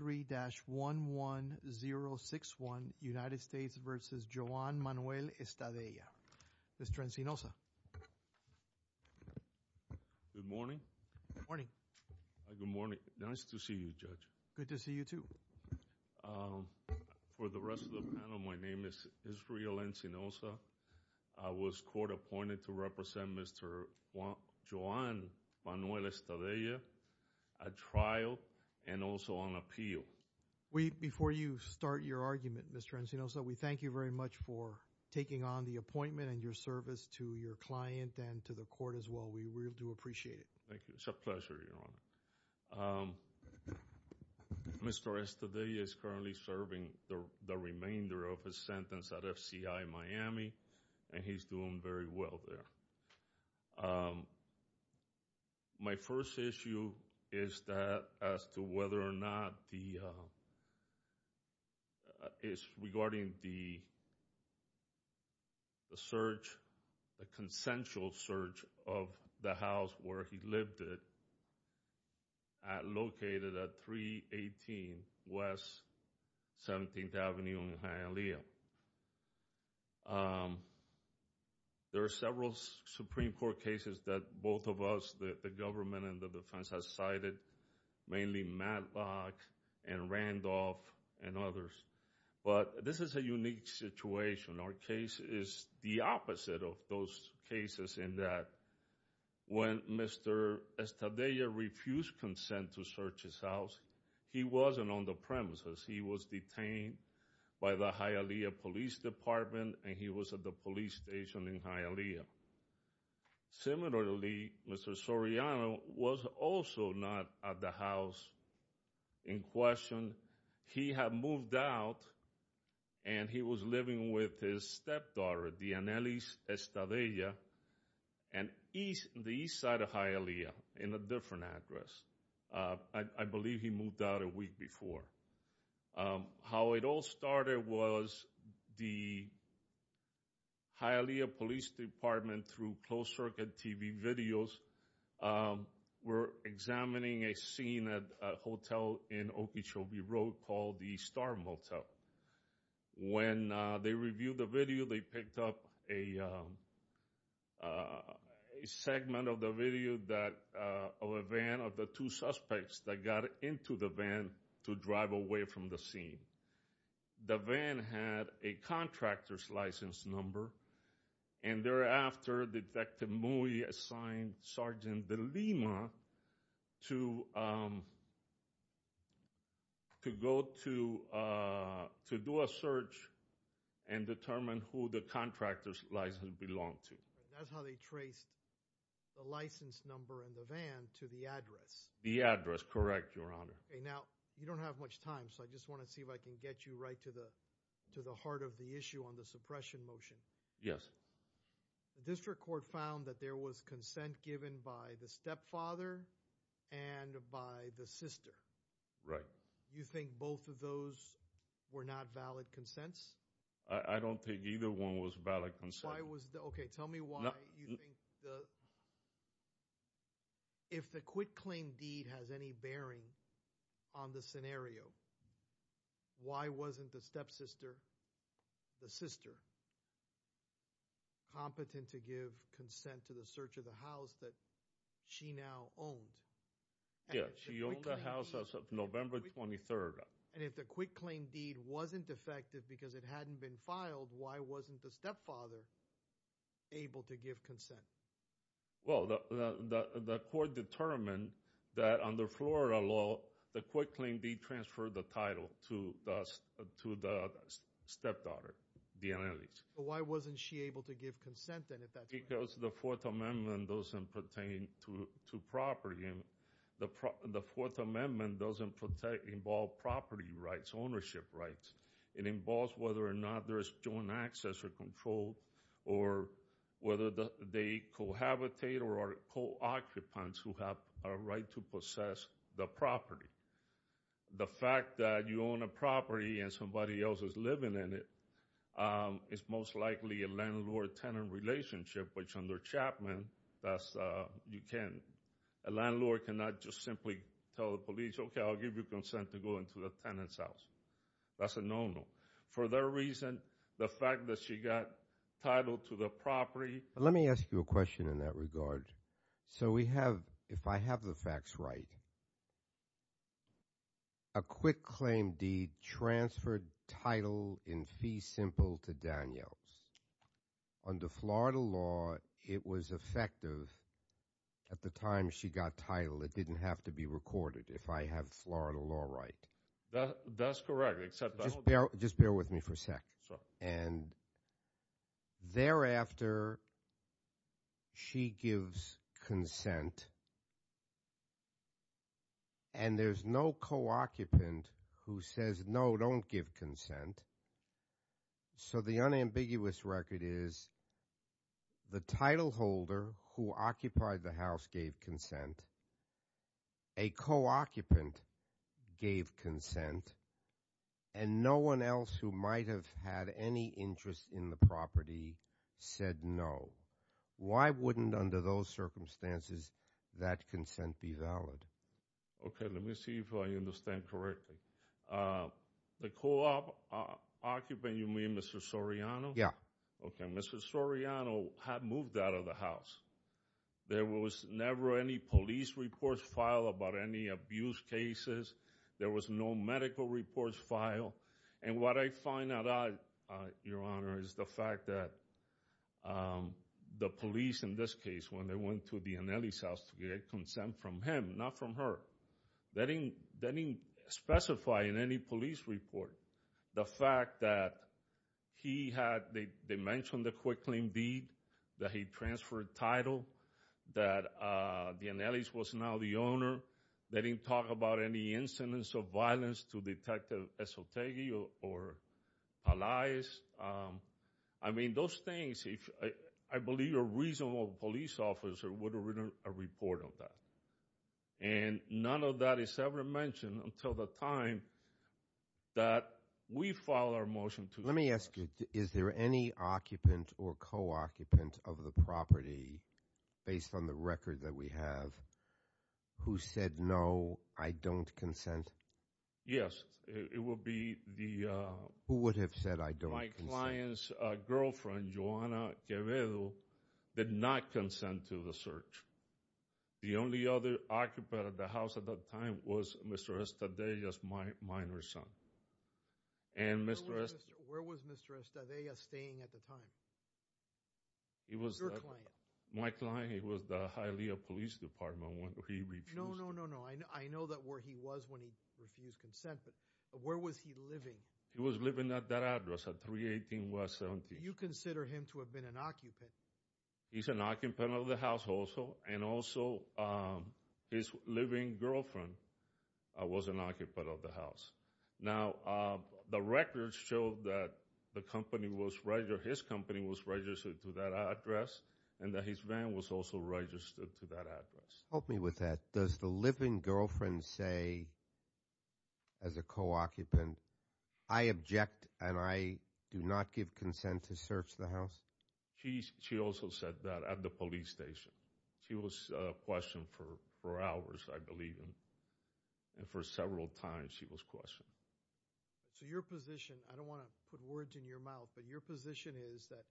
3-11061 United States v. Joan Manuel Estadella. Mr. Encinoza. Good morning. Good morning. Good morning. Nice to see you, Judge. Good to see you, too. For the rest of the panel, my name is Israel Encinoza. I was court appointed to represent Mr. Joan Manuel Estadella at trial and also on appeal Before you start your argument, Mr. Encinoza, we thank you very much for taking on the appointment and your service to your client and to the court as well. We really do appreciate it. Thank you. It's a pleasure, Your Honor. Mr. Estadella is currently serving the remainder of his sentence at FCI Miami, and he's doing very well there. My first issue is that as to whether or not the, is regarding the search, the consensual search of the house where he lived at, located at 318 West 17th Avenue in Hialeah. There are several Supreme Court cases that both of us, the government and the defense, have cited, mainly Matlock and Randolph and others. But this is a unique situation. Our case is the opposite of those cases in that when Mr. Estadella refused consent to search his house, he wasn't on the premises. He was detained by the Hialeah Police Department, and he was at the police station in Hialeah. Similarly, Mr. Soriano was also not at the house in question. He had moved out, and he was living with his stepdaughter, Dianely Estadella, in the east side of Hialeah, in a different address. I believe he moved out a week before. How it all started was the Hialeah Police Department, through closed-circuit TV videos, were examining a scene at a hotel in Okeechobee Road called the Star Motel. When they reviewed the video, they picked up a segment of the video of a van of the two suspects that got into the van to drive away from the scene. The van had a contractor's license number, and thereafter, Detective Mui assigned Sergeant DeLima to go to do a search and determine who the contractor's license belonged to. That's how they traced the license number and the van to the address. The address, correct, Your Honor. Now, you don't have much time, so I just want to see if I can get you right to the heart of the issue on the suppression motion. Yes. The district court found that there was consent given by the stepfather and by the sister. Right. You think both of those were not valid consents? I don't think either one was valid consent. Why was the, okay, tell me why you think the, if the quit-claim deed has any bearing on the scenario, why wasn't the stepsister, the sister, competent to give consent to the search of the house that she now owned? Yes. She owned the house as of November 23rd. And if the quit-claim deed wasn't effective because it hadn't been filed, why wasn't the stepfather able to give consent? Well, the court determined that under Florida law, the quit-claim deed transferred the title to the stepdaughter, DeAnne Ellis. Why wasn't she able to give consent then if that's what happened? Because the Fourth Amendment doesn't pertain to property. The Fourth Amendment doesn't protect, involve property rights, ownership rights. It involves whether or not there is joint access or control, or whether they cohabitate or are co-occupants who have a right to possess the property. The fact that you own a property and somebody else is living in it is most likely a landlord-tenant relationship, which under Chapman, that's, you can't, a landlord cannot just simply tell the police, okay, I'll give you consent to go into the tenant's house. That's a no-no. For that reason, the fact that she got titled to the property... Let me ask you a question in that regard. So we have, if I have the facts right, a quit-claim deed transferred title in fee simple to Danielle's. Under Florida law, it was effective at the time she got titled. It didn't have to be recorded, if I have Florida law right. That's correct, except I don't... Just bear with me for a sec. And thereafter, she gives consent, and there's no co-occupant who says, no, don't give consent. So the unambiguous record is, the title holder who occupied the house gave consent. A co-occupant gave consent, and no one else who might have had any interest in the property said no. Why wouldn't, under those circumstances, that consent be valid? Okay, let me see if I understand correctly. The co-occupant, you mean Mr. Soriano? Yeah. Okay, Mr. Soriano had moved out of the house. There was never any police reports filed about any abuse cases. There was no medical reports filed. And what I find out, Your Honor, is the fact that the police, in this case, when they went to Danielle's house to get consent from him, not from her, they didn't specify in any police report the fact that he had, that they mentioned the quick claim deed, that he transferred title, that Danielle's was now the owner. They didn't talk about any incidents of violence to Detective Esotegui or Pelaez. I mean, those things, I believe a reasonable police officer would have written a report on that. And none of that is ever mentioned until the time that we file our motion to- Let me ask you, is there any occupant or co-occupant of the property, based on the record that we have, who said no, I don't consent? Yes, it would be the- Who would have said I don't consent? My client's girlfriend, Joanna Quevedo, did not consent to the search. The only other occupant of the house at that time was Mr. Estadella's minor son. And Mr. Estadella- Where was Mr. Estadella staying at the time? It was- Your client. My client, it was the Hialeah Police Department when he refused- No, no, no, no, I know that where he was when he refused consent, but where was he living? He was living at that address, at 318 West 17th. You consider him to have been an occupant? He's an occupant of the house also, and also his living girlfriend was an occupant of the house. Now, the records show that the company was, his company was registered to that address, and that his van was also registered to that address. Help me with that. Does the living girlfriend say, as a co-occupant, I object and I do not give consent to search the house? She also said that at the police station. She was questioned for hours, I believe, and for several times she was questioned. So your position, I don't want to put words in your mouth, but your position is that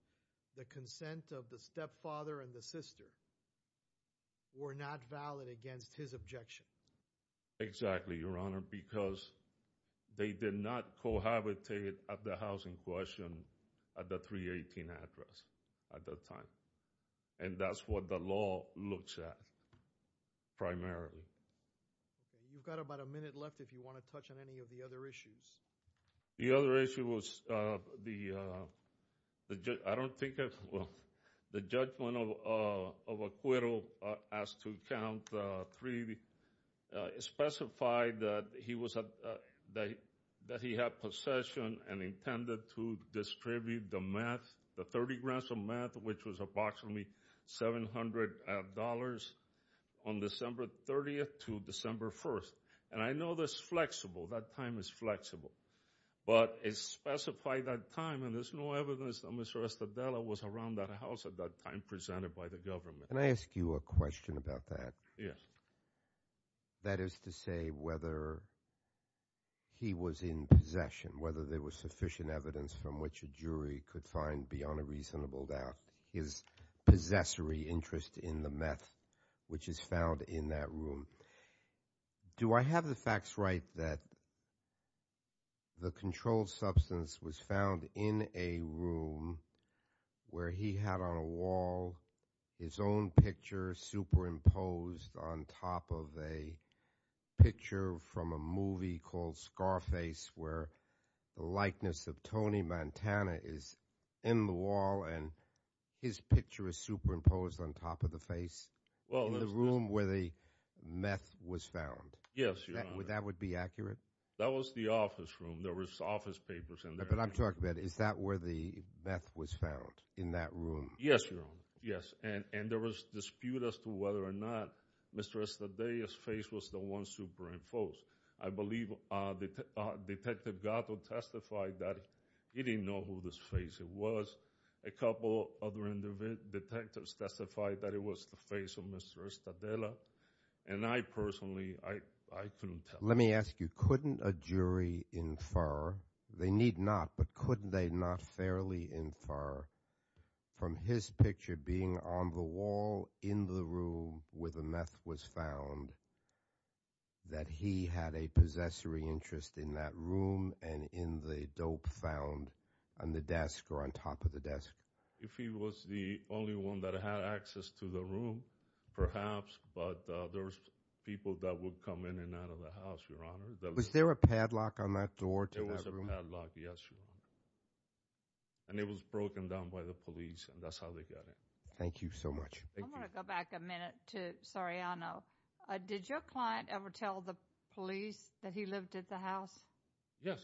the consent of the stepfather and the sister were not valid against his objection. Exactly, Your Honor, because they did not cohabitate at the house in question at the 318 address at that time. And that's what the law looks at, primarily. Okay, you've got about a minute left if you want to touch on any of the other issues. The other issue was the, I don't think I, well, the judgment of Acuero as to count three, specified that he was, that he had possession and intended to distribute the meth, the 30 grams of meth, which was approximately $700 on December 30th to December 1st. And I know that's flexible, that time is flexible. But it specified that time, and there's no evidence that Mr. Estadela was around that house at that time presented by the government. Can I ask you a question about that? Yes. That is to say whether he was in possession, whether there was sufficient evidence from which a jury could find beyond a reasonable doubt his possessory interest in the meth, which is found in that room. Do I have the facts right that the controlled substance was found in a room where he had on a wall his own picture superimposed on top of a picture from a movie called Scarface, where the likeness of Tony Montana is in the wall and his picture is superimposed on top of the face in the room where the meth was found? Yes, Your Honor. That would be accurate? That was the office room. There was office papers in there. But I'm talking about, is that where the meth was found, in that room? Yes, Your Honor. Yes, and there was dispute as to whether or not Mr. Estadela's face was the one superimposed. I believe Detective Gatto testified that he didn't know who this face was. A couple other detectives testified that it was the face of Mr. Estadela. And I personally, I couldn't tell. Let me ask you, couldn't a jury infer, they need not, but couldn't they not fairly infer from his picture being on the wall in the room where the meth was found, that he had a possessory interest in that room, and in the dope found on the desk or on top of the desk? If he was the only one that had access to the room, perhaps, but there was people that would come in and out of the house, Your Honor. Was there a padlock on that door to that room? There was a padlock, yes, Your Honor. And it was broken down by the police, and that's how they got in. Thank you so much. I want to go back a minute to Soriano. Did your client ever tell the police that he lived at the house? Yes.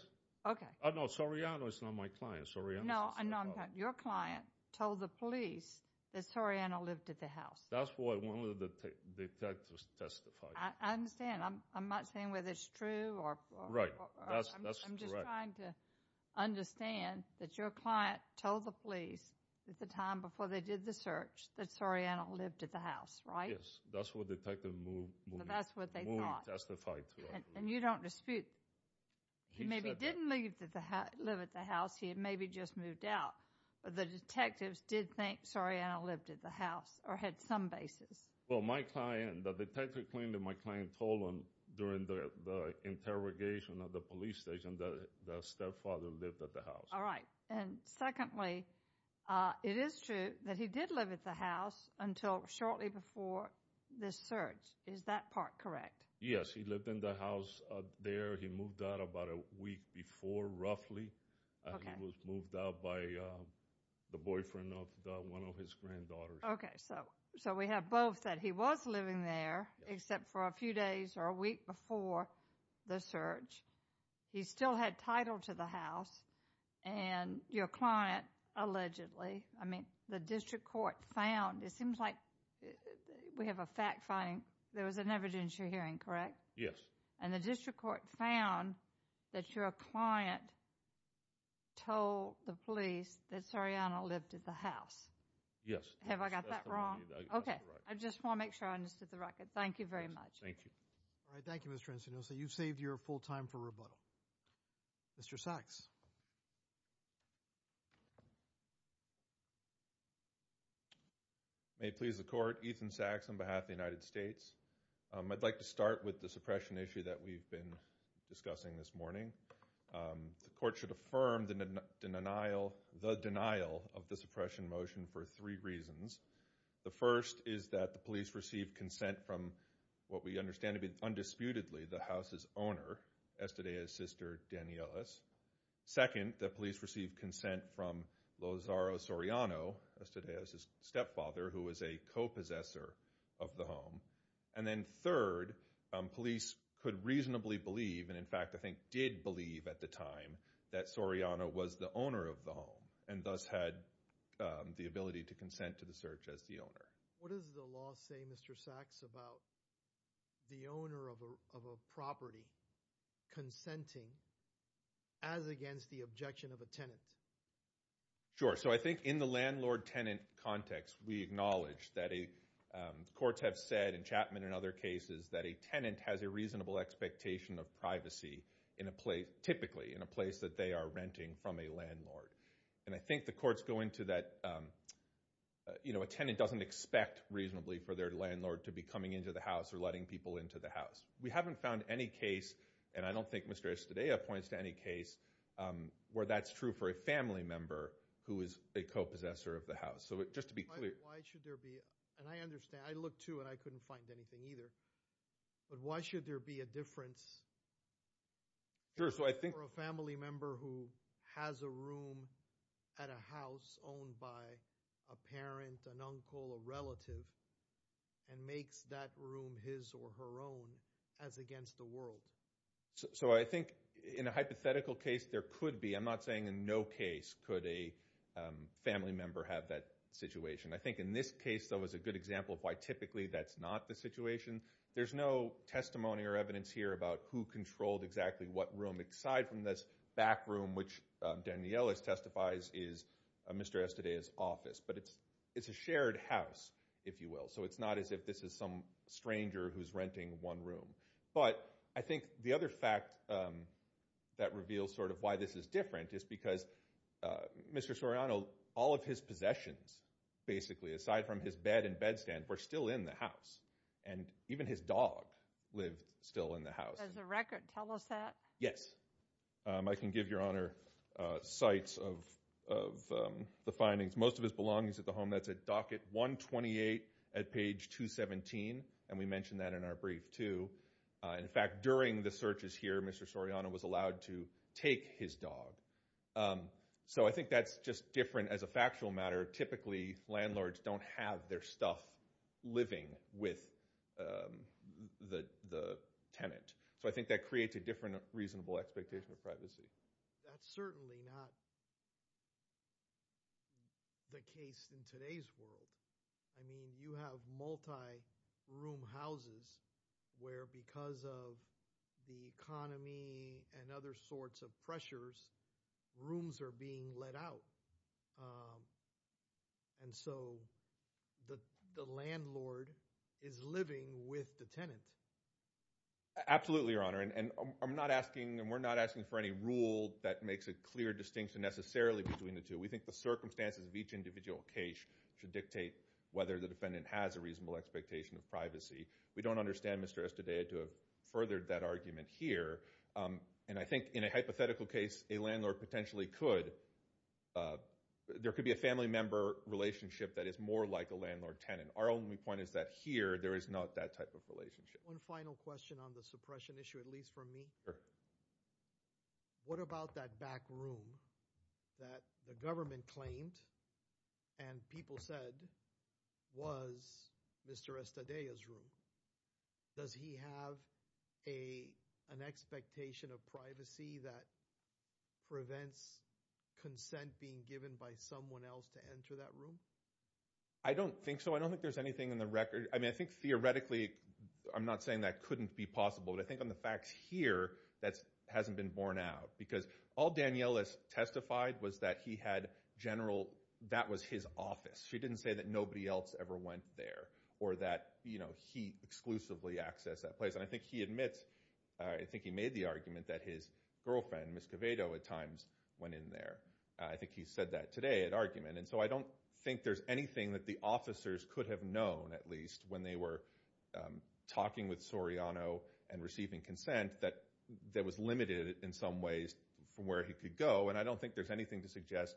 Okay. No, Soriano is not my client. Soriano's a- No, I'm not. Your client told the police that Soriano lived at the house. That's what one of the detectives testified. I understand. I'm not saying whether it's true or- That's correct. I'm just trying to understand that your client told the police at the time before they did the search that Soriano lived at the house, right? That's what the detective moved- That's what they thought. Moved and testified to it. And you don't dispute, he maybe didn't live at the house. He had maybe just moved out, but the detectives did think Soriano lived at the house or had some basis. Well, my client, the detective claimed that my client told him during the interrogation at the police station that the stepfather lived at the house. All right. And secondly, it is true that he did live at the house until shortly before the search. Is that part correct? Yes, he lived in the house there. He moved out about a week before, roughly. Okay. He was moved out by the boyfriend of one of his granddaughters. Okay, so we have both that he was living there except for a few days or a week before the search. He still had title to the house and your client allegedly, I mean, the district court found, it seems like we have a fact finding, there was an evidence you're hearing, correct? Yes. And the district court found that your client told the police that Soriano lived at the house. Yes. Have I got that wrong? Okay. I just want to make sure I understood the record. Thank you very much. Thank you. All right. Thank you, Mr. Encinos. You've saved your full time for rebuttal. Mr. Sachs. May it please the court. Ethan Sachs on behalf of the United States. I'd like to start with the suppression issue that we've been discussing this morning. The court should affirm the denial of the suppression motion for three reasons. The first is that the police received consent from what we understand to be disputedly the house's owner, Estedea's sister, Dani Ellis. Second, the police received consent from Lozaro Soriano, Estedea's stepfather, who was a co-possessor of the home. And then third, police could reasonably believe, and in fact, I think did believe at the time that Soriano was the owner of the home and thus had the ability to consent to the search as the owner. What does the law say, Mr. Sachs, about the owner of a property consenting as against the objection of a tenant? Sure. So I think in the landlord-tenant context, we acknowledge that courts have said in Chapman and other cases that a tenant has a reasonable expectation of privacy in a place, typically in a place that they are renting from a landlord. And I think the courts go into that, you know, a tenant doesn't expect reasonably for their landlord to be coming into the house or letting people into the house. We haven't found any case, and I don't think Mr. Estedea points to any case, where that's true for a family member who is a co-possessor of the house. So just to be clear. Why should there be, and I understand, I looked too and I couldn't find anything either, but why should there be a difference for a family member who has a room at a house owned by a parent, an uncle, a relative, and makes that room his or her own as against the world? So I think in a hypothetical case, there could be, I'm not saying in no case, could a family member have that situation. I think in this case, though, is a good example of why typically that's not the situation. There's no testimony or evidence here about who controlled exactly what room, aside from this back room, which Daniela testifies is Mr. Estedea's office. But it's a shared house, if you will. So it's not as if this is some stranger who's renting one room. But I think the other fact that reveals sort of why this is different is because Mr. Soriano, all of his possessions, basically, aside from his bed and bed stand, were still in the house. And even his dog lived still in the house. There's a record. Tell us that. Yes. I can give Your Honor sites of the findings. Most of his belongings at the home, that's at docket 128 at page 217. And we mentioned that in our brief, too. In fact, during the searches here, Mr. Soriano was allowed to take his dog. So I think that's just different as a factual matter. Typically, landlords don't have their stuff living with the tenant. So I think that creates a different reasonable expectation of privacy. That's certainly not the case in today's world. I mean, you have multi-room houses where, because of the economy and other sorts of pressures, rooms are being let out. And so the landlord is living with the tenant. Absolutely, Your Honor. And I'm not asking, and we're not asking for any rule that makes a clear distinction, necessarily, between the two. We think the circumstances of each individual case should dictate whether the defendant has a reasonable expectation of privacy. We don't understand, Mr. Estede, to have furthered that argument here. And I think in a hypothetical case, a landlord potentially could. There could be a family member relationship that is more like a landlord-tenant. Our only point is that here, there is not that type of relationship. One final question on the suppression issue, at least from me. What about that back room that the government claimed and people said was Mr. Estede's room? Does he have an expectation of privacy that prevents consent being given by someone else to enter that room? I don't think so. I don't think there's anything in the record. I think theoretically, I'm not saying that couldn't be possible. But I think on the facts here, that hasn't been borne out. Because all Danielle has testified was that he had general, that was his office. She didn't say that nobody else ever went there or that he exclusively accessed that place. And I think he admits, I think he made the argument that his girlfriend, Ms. Coveto, at times went in there. I think he said that today at argument. So I don't think there's anything that the officers could have known, at least, when they were talking with Soriano and receiving consent, that that was limited in some ways from where he could go. And I don't think there's anything to suggest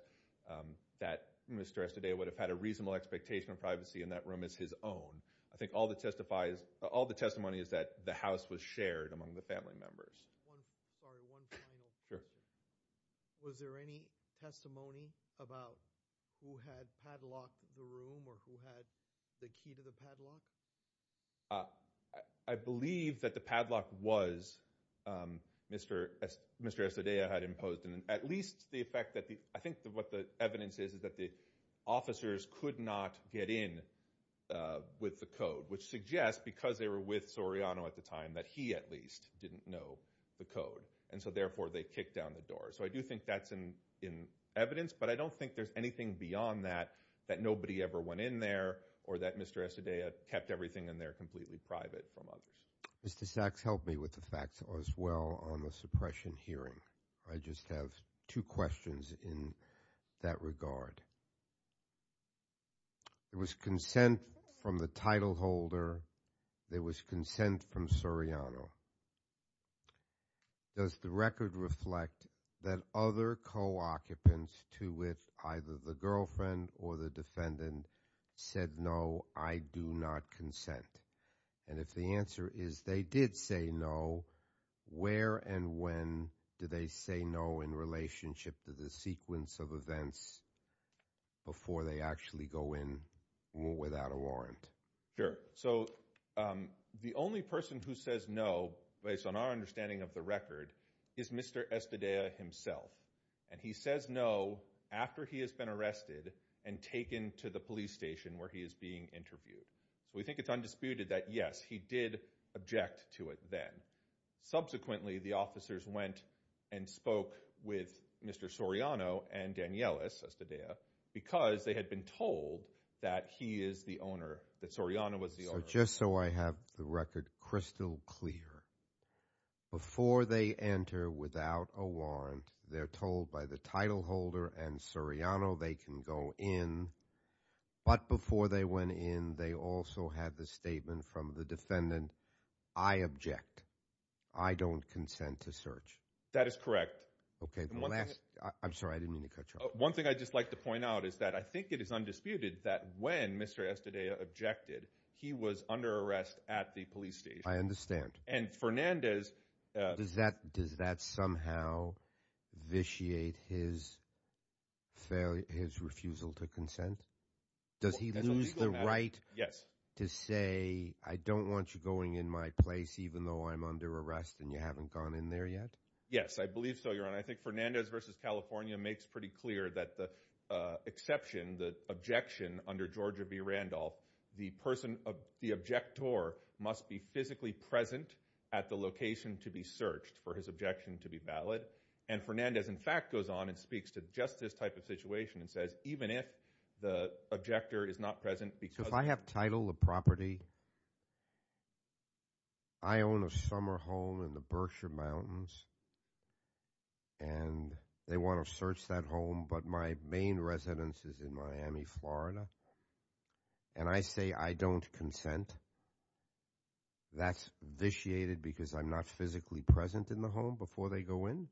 that Mr. Estede would have had a reasonable expectation of privacy in that room as his own. I think all the testimony is that the house was shared among the family members. One final question. Sure. Was there any testimony about who had padlocked the room or who had the key to the padlock? I believe that the padlock was Mr. Estede had imposed. And at least the effect that the, I think what the evidence is, is that the officers could not get in with the code. Which suggests, because they were with Soriano at the time, that he at least didn't know the code. And so therefore they kicked down the door. So I do think that's in evidence. But I don't think there's anything beyond that, that nobody ever went in there, or that Mr. Estede had kept everything in there completely private from others. Mr. Sachs helped me with the facts as well on the suppression hearing. I just have two questions in that regard. There was consent from the title holder. There was consent from Soriano. Does the record reflect that other co-occupants to which either the girlfriend or the defendant said no, I do not consent? And if the answer is they did say no, where and when did they say no in relationship to the sequence of events before they actually go in without a warrant? Sure. So the only person who says no, based on our understanding of the record, is Mr. Estede himself. And he says no after he has been arrested and taken to the police station where he is being interviewed. So we think it's undisputed that yes, he did object to it then. Subsequently, the officers went and spoke with Mr. Soriano and Danielis Estede, because they had been told that he is the owner, that Soriano was the owner. So just so I have the record crystal clear, before they enter without a warrant, they're told by the title holder and Soriano they can go in. But before they went in, they also had the statement from the defendant, I object. I don't consent to search. That is correct. Okay. I'm sorry, I didn't mean to cut you off. One thing I'd just like to point out is that I think it is undisputed that when Mr. Estede objected, he was under arrest at the police station. I understand. And Fernandez... Does that somehow vitiate his refusal to consent? Does he lose the right to say, I don't want you going in my place even though I'm under arrest and you haven't gone in there yet? Yes, I believe so, Your Honor. I think Fernandez v. California makes pretty clear that the exception, the objection under Georgia v. Randolph, the person, the objector must be physically present at the location to be searched for his objection to be valid. And Fernandez, in fact, goes on and speaks to just this type of situation and says, even if the objector is not present because... If I have title of property, I own a summer home in the Berkshire Mountains, and they want to search that home, but my main residence is in Miami, Florida, and I say I don't consent, that's vitiated because I'm not physically present in the home before they go in?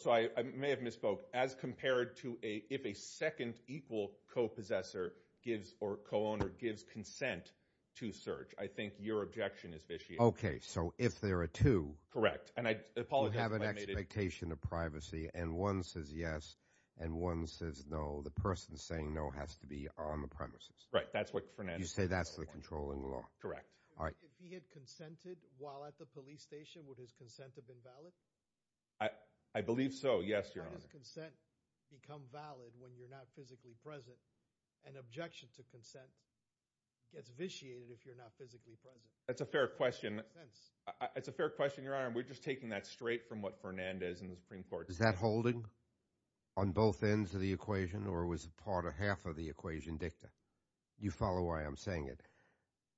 So I may have misspoke. As compared to if a second equal co-possessor gives or co-owner gives consent to search, I think your objection is vitiated. Okay. So if there are two... Correct. You have an expectation of privacy, and one says yes, and one says no. The person saying no has to be on the premises. Right. That's what Fernandez... You say that's the controlling law. Correct. All right. If he had consented while at the police station, would his consent have been valid? I believe so. Yes, Your Honor. How does consent become valid when you're not physically present? An objection to consent gets vitiated if you're not physically present. That's a fair question. It's a fair question, Your Honor. We're just taking that straight from what Fernandez in the Supreme Court... Is that holding on both ends of the equation, or was a part or half of the equation dicta? Do you follow why I'm saying it?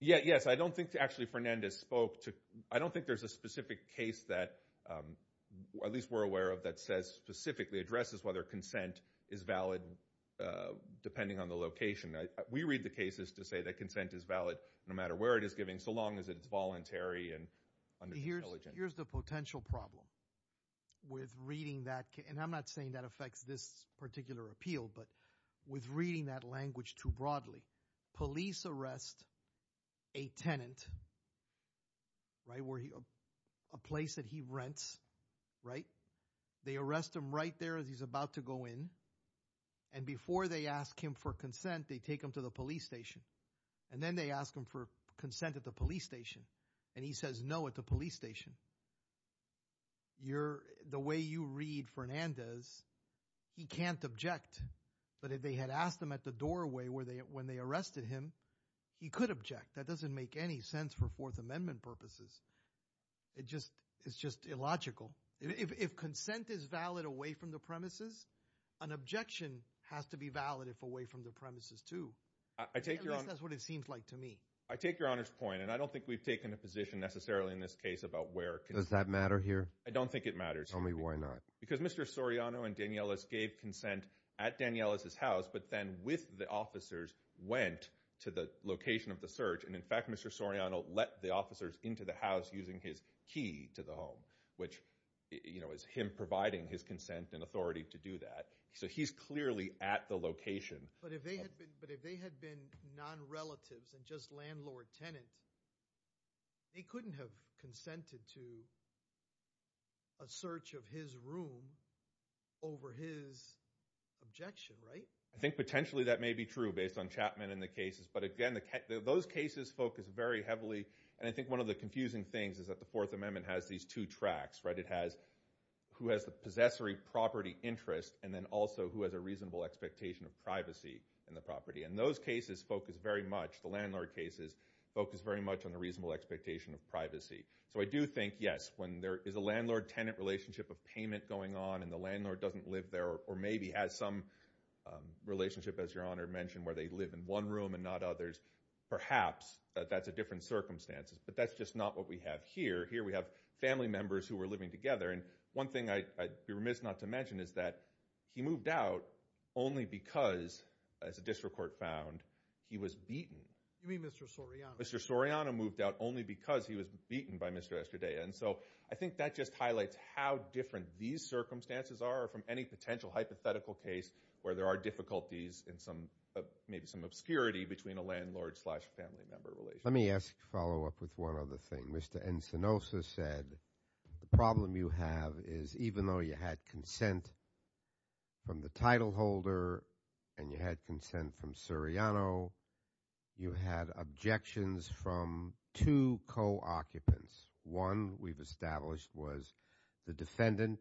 Yeah. Yes. I don't think actually Fernandez spoke to... I don't think there's a specific case that, at least we're aware of, that says specifically addresses whether consent is valid depending on the location. We read the cases to say that consent is valid no matter where it is given, so long as it's voluntary and... Here's the potential problem with reading that... And I'm not saying that affects this particular appeal, but with reading that language too broadly. Police arrest a tenant, right, where he... A place that he rents, right? They arrest him right there as he's about to go in. And before they ask him for consent, they take him to the police station. And then they ask him for consent at the police station. And he says, no, at the police station. The way you read Fernandez, he can't object. But if they had asked him at the doorway when they arrested him, he could object. That doesn't make any sense for Fourth Amendment purposes. It's just illogical. If consent is valid away from the premises, an objection has to be valid if away from the premises too. I take your... At least that's what it seems like to me. I take your Honor's point, and I don't think we've taken a position necessarily in this case about where... Does that matter here? I don't think it matters. Tell me why not. Because Mr. Soriano and Danielas gave consent at Danielas' house, but then with the officers went to the location of the search. And in fact, Mr. Soriano let the officers into the house using his key to the home, which is him providing his consent and authority to do that. So he's clearly at the location. But if they had been non-relatives and just landlord-tenant, they couldn't have consented to a search of his room over his objection, right? I think potentially that may be true based on Chapman and the cases. But again, those cases focus very heavily. And I think one of the confusing things is that the Fourth Amendment has these two tracks. It has who has the possessory property interest, and then also who has a reasonable expectation of privacy in the property. And those cases focus very much, the landlord cases, focus very much on the reasonable expectation of privacy. So I do think, yes, when there is a landlord-tenant relationship of payment going on and the landlord doesn't live there or maybe has some relationship, as Your Honor mentioned, where they live in one room and not others, perhaps that's a different circumstances. But that's just not what we have here. Here we have family members who are living together. And one thing I'd be remiss not to mention is that he moved out only because, as a district court found, he was beaten. You mean Mr. Soriano? Mr. Soriano moved out only because he was beaten by Mr. Estradaia. And so I think that just highlights how different these circumstances are from any potential hypothetical case where there are difficulties in some, maybe some obscurity between a landlord slash family member relationship. Let me ask, follow up with one other thing. Mr. Encinosa said the problem you have is even though you had consent from the title holder and you had consent from Soriano, you had objections from two co-occupants. One, we've established, was the defendant.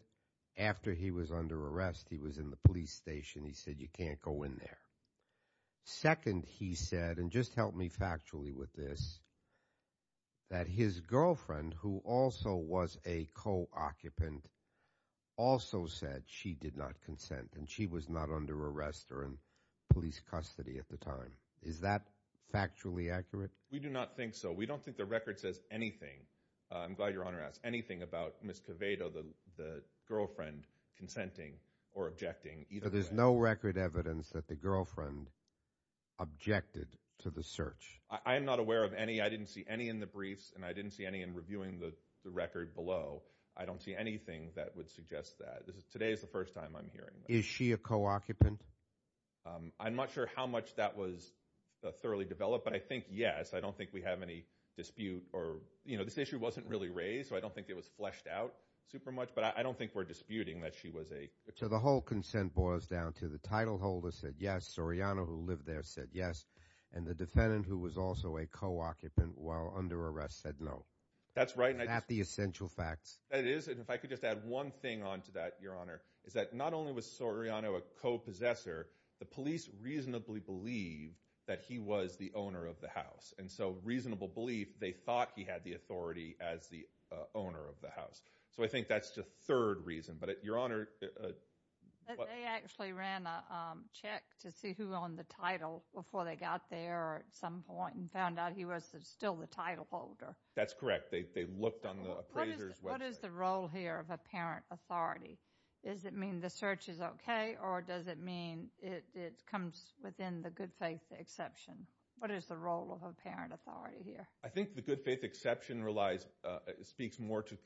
After he was under arrest, he was in the police station. He said, you can't go in there. Second, he said, and just help me factually with this, that his girlfriend, who also was a co-occupant, also said she did not consent and she was not under arrest or in police custody at the time. Is that factually accurate? We do not think so. We don't think the record says anything. I'm glad Your Honor asked. Anything about Ms. Covado, the girlfriend, consenting or objecting. There's no record evidence that the girlfriend objected to the search. I'm not aware of any. I didn't see any in the briefs and I didn't see any in reviewing the record below. I don't see anything that would suggest that. Today is the first time I'm hearing. Is she a co-occupant? I'm not sure how much that was thoroughly developed, but I think yes. I don't think we have any dispute or, you know, this issue wasn't really raised, so I don't think it was fleshed out super much, but I don't think we're disputing that she was a co-occupant. The whole consent boils down to the title holder said yes. Soriano, who lived there, said yes. And the defendant, who was also a co-occupant while under arrest, said no. That's right. Not the essential facts. That is, and if I could just add one thing onto that, Your Honor, is that not only was Soriano a co-possessor, the police reasonably believed that he was the owner of the house. And so reasonable belief, they thought he had the authority as the owner of the house. So I think that's the third reason. But, Your Honor, they actually ran a check to see who owned the title before they got there at some point and found out he was still the title holder. That's correct. They looked on the appraiser's website. What is the role here of apparent authority? Does it mean the search is okay, or does it mean it comes within the good faith exception? What is the role of apparent authority here? I think the good faith exception relies, speaks more to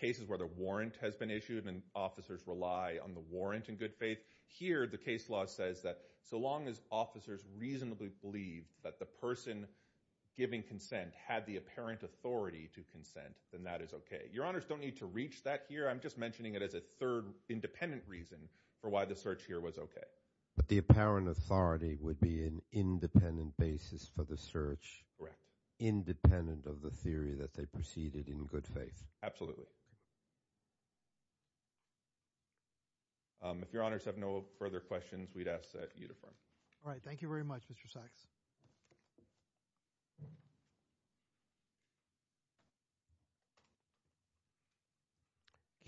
cases where the warrant has been issued and officers rely on the warrant in good faith. Here, the case law says that so long as officers reasonably believe that the person giving consent had the apparent authority to consent, then that is okay. Your Honors, don't need to reach that here. I'm just mentioning it as a third independent reason for why the search here was okay. But the apparent authority would be an independent basis for the search. Correct. Independent of the theory that they proceeded in good faith. Absolutely. If Your Honors have no further questions, we'd ask that you defer. All right. Thank you very much, Mr. Sachs.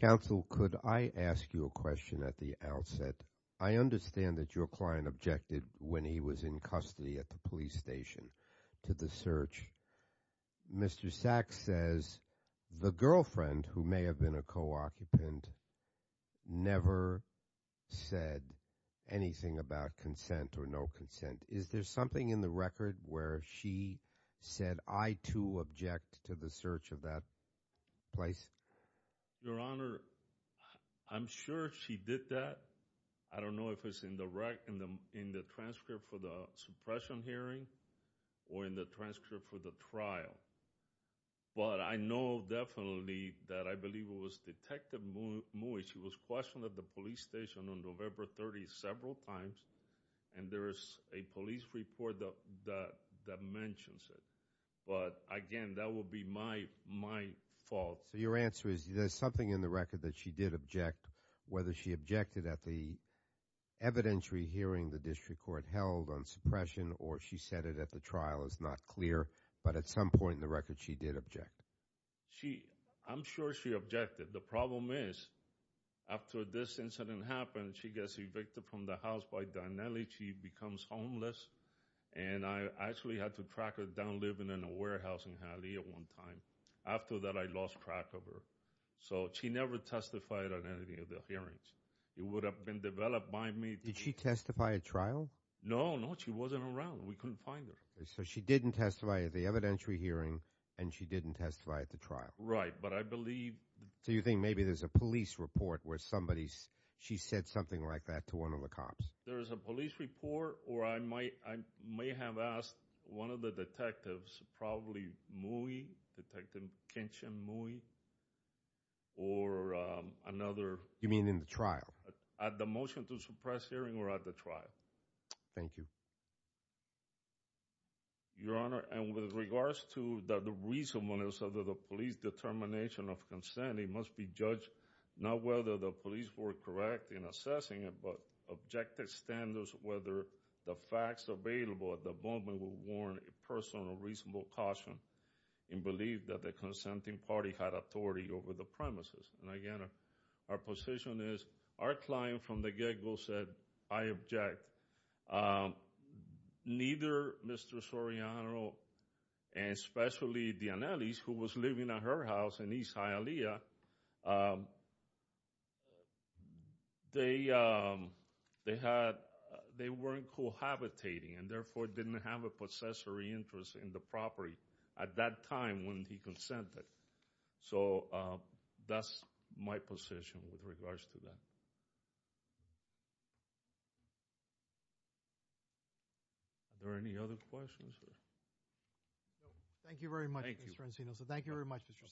Counsel, could I ask you a question at the outset? I understand that your client objected when he was in custody at the police station to the search. Mr. Sachs says the girlfriend, who may have been a co-occupant, never said anything about consent or no consent. Is there something in the record where she said, I too object to the search of that place? Your Honor, I'm sure she did that. I don't know if it's in the transcript for the suppression hearing or in the transcript for the trial. But I know definitely that I believe it was Detective Mui. She was questioned at the police station on November 30th several times and there is a police report that mentions it. But again, that would be my fault. So your answer is there's something in the record that she did object, whether she objected at the evidentiary hearing the district court held on suppression or she said it at the trial is not clear. But at some point in the record, she did object. She, I'm sure she objected. The problem is after this incident happened, she gets evicted from the house by Dinelli. She becomes homeless. And I actually had to track her down living in a warehousing alley at one time. After that, I lost track of her. So she never testified on any of the hearings. It would have been developed by me. Did she testify at trial? No, no, she wasn't around. We couldn't find her. So she didn't testify at the evidentiary hearing and she didn't testify at the trial. Right. But I believe. So you think maybe there's a police report where somebody, she said something like that to one of the cops. There is a police report or I might, I may have asked one of the detectives, probably Mui, Detective Kenshin Mui or another. You mean in the trial? At the motion to suppress hearing or at the trial. Thank you. Your Honor, and with regards to the reason when it was said that the police determination of consent, it must be judged not whether the police were correct in assessing it, but objective standards, whether the facts available at the moment will warrant a personal reasonable caution in belief that the consenting party had authority over the premises. And again, our position is our client from the get-go said, I object. Neither Mr. Soriano and especially Dianelis, who was living at her house in East Hialeah, they, they had, they weren't cohabitating and therefore didn't have a possessory interest in the property at that time when he consented. So that's my position with regards to that. Are there any other questions? Thank you very much, Mr. Encino. So thank you very much, Mr. Sachs.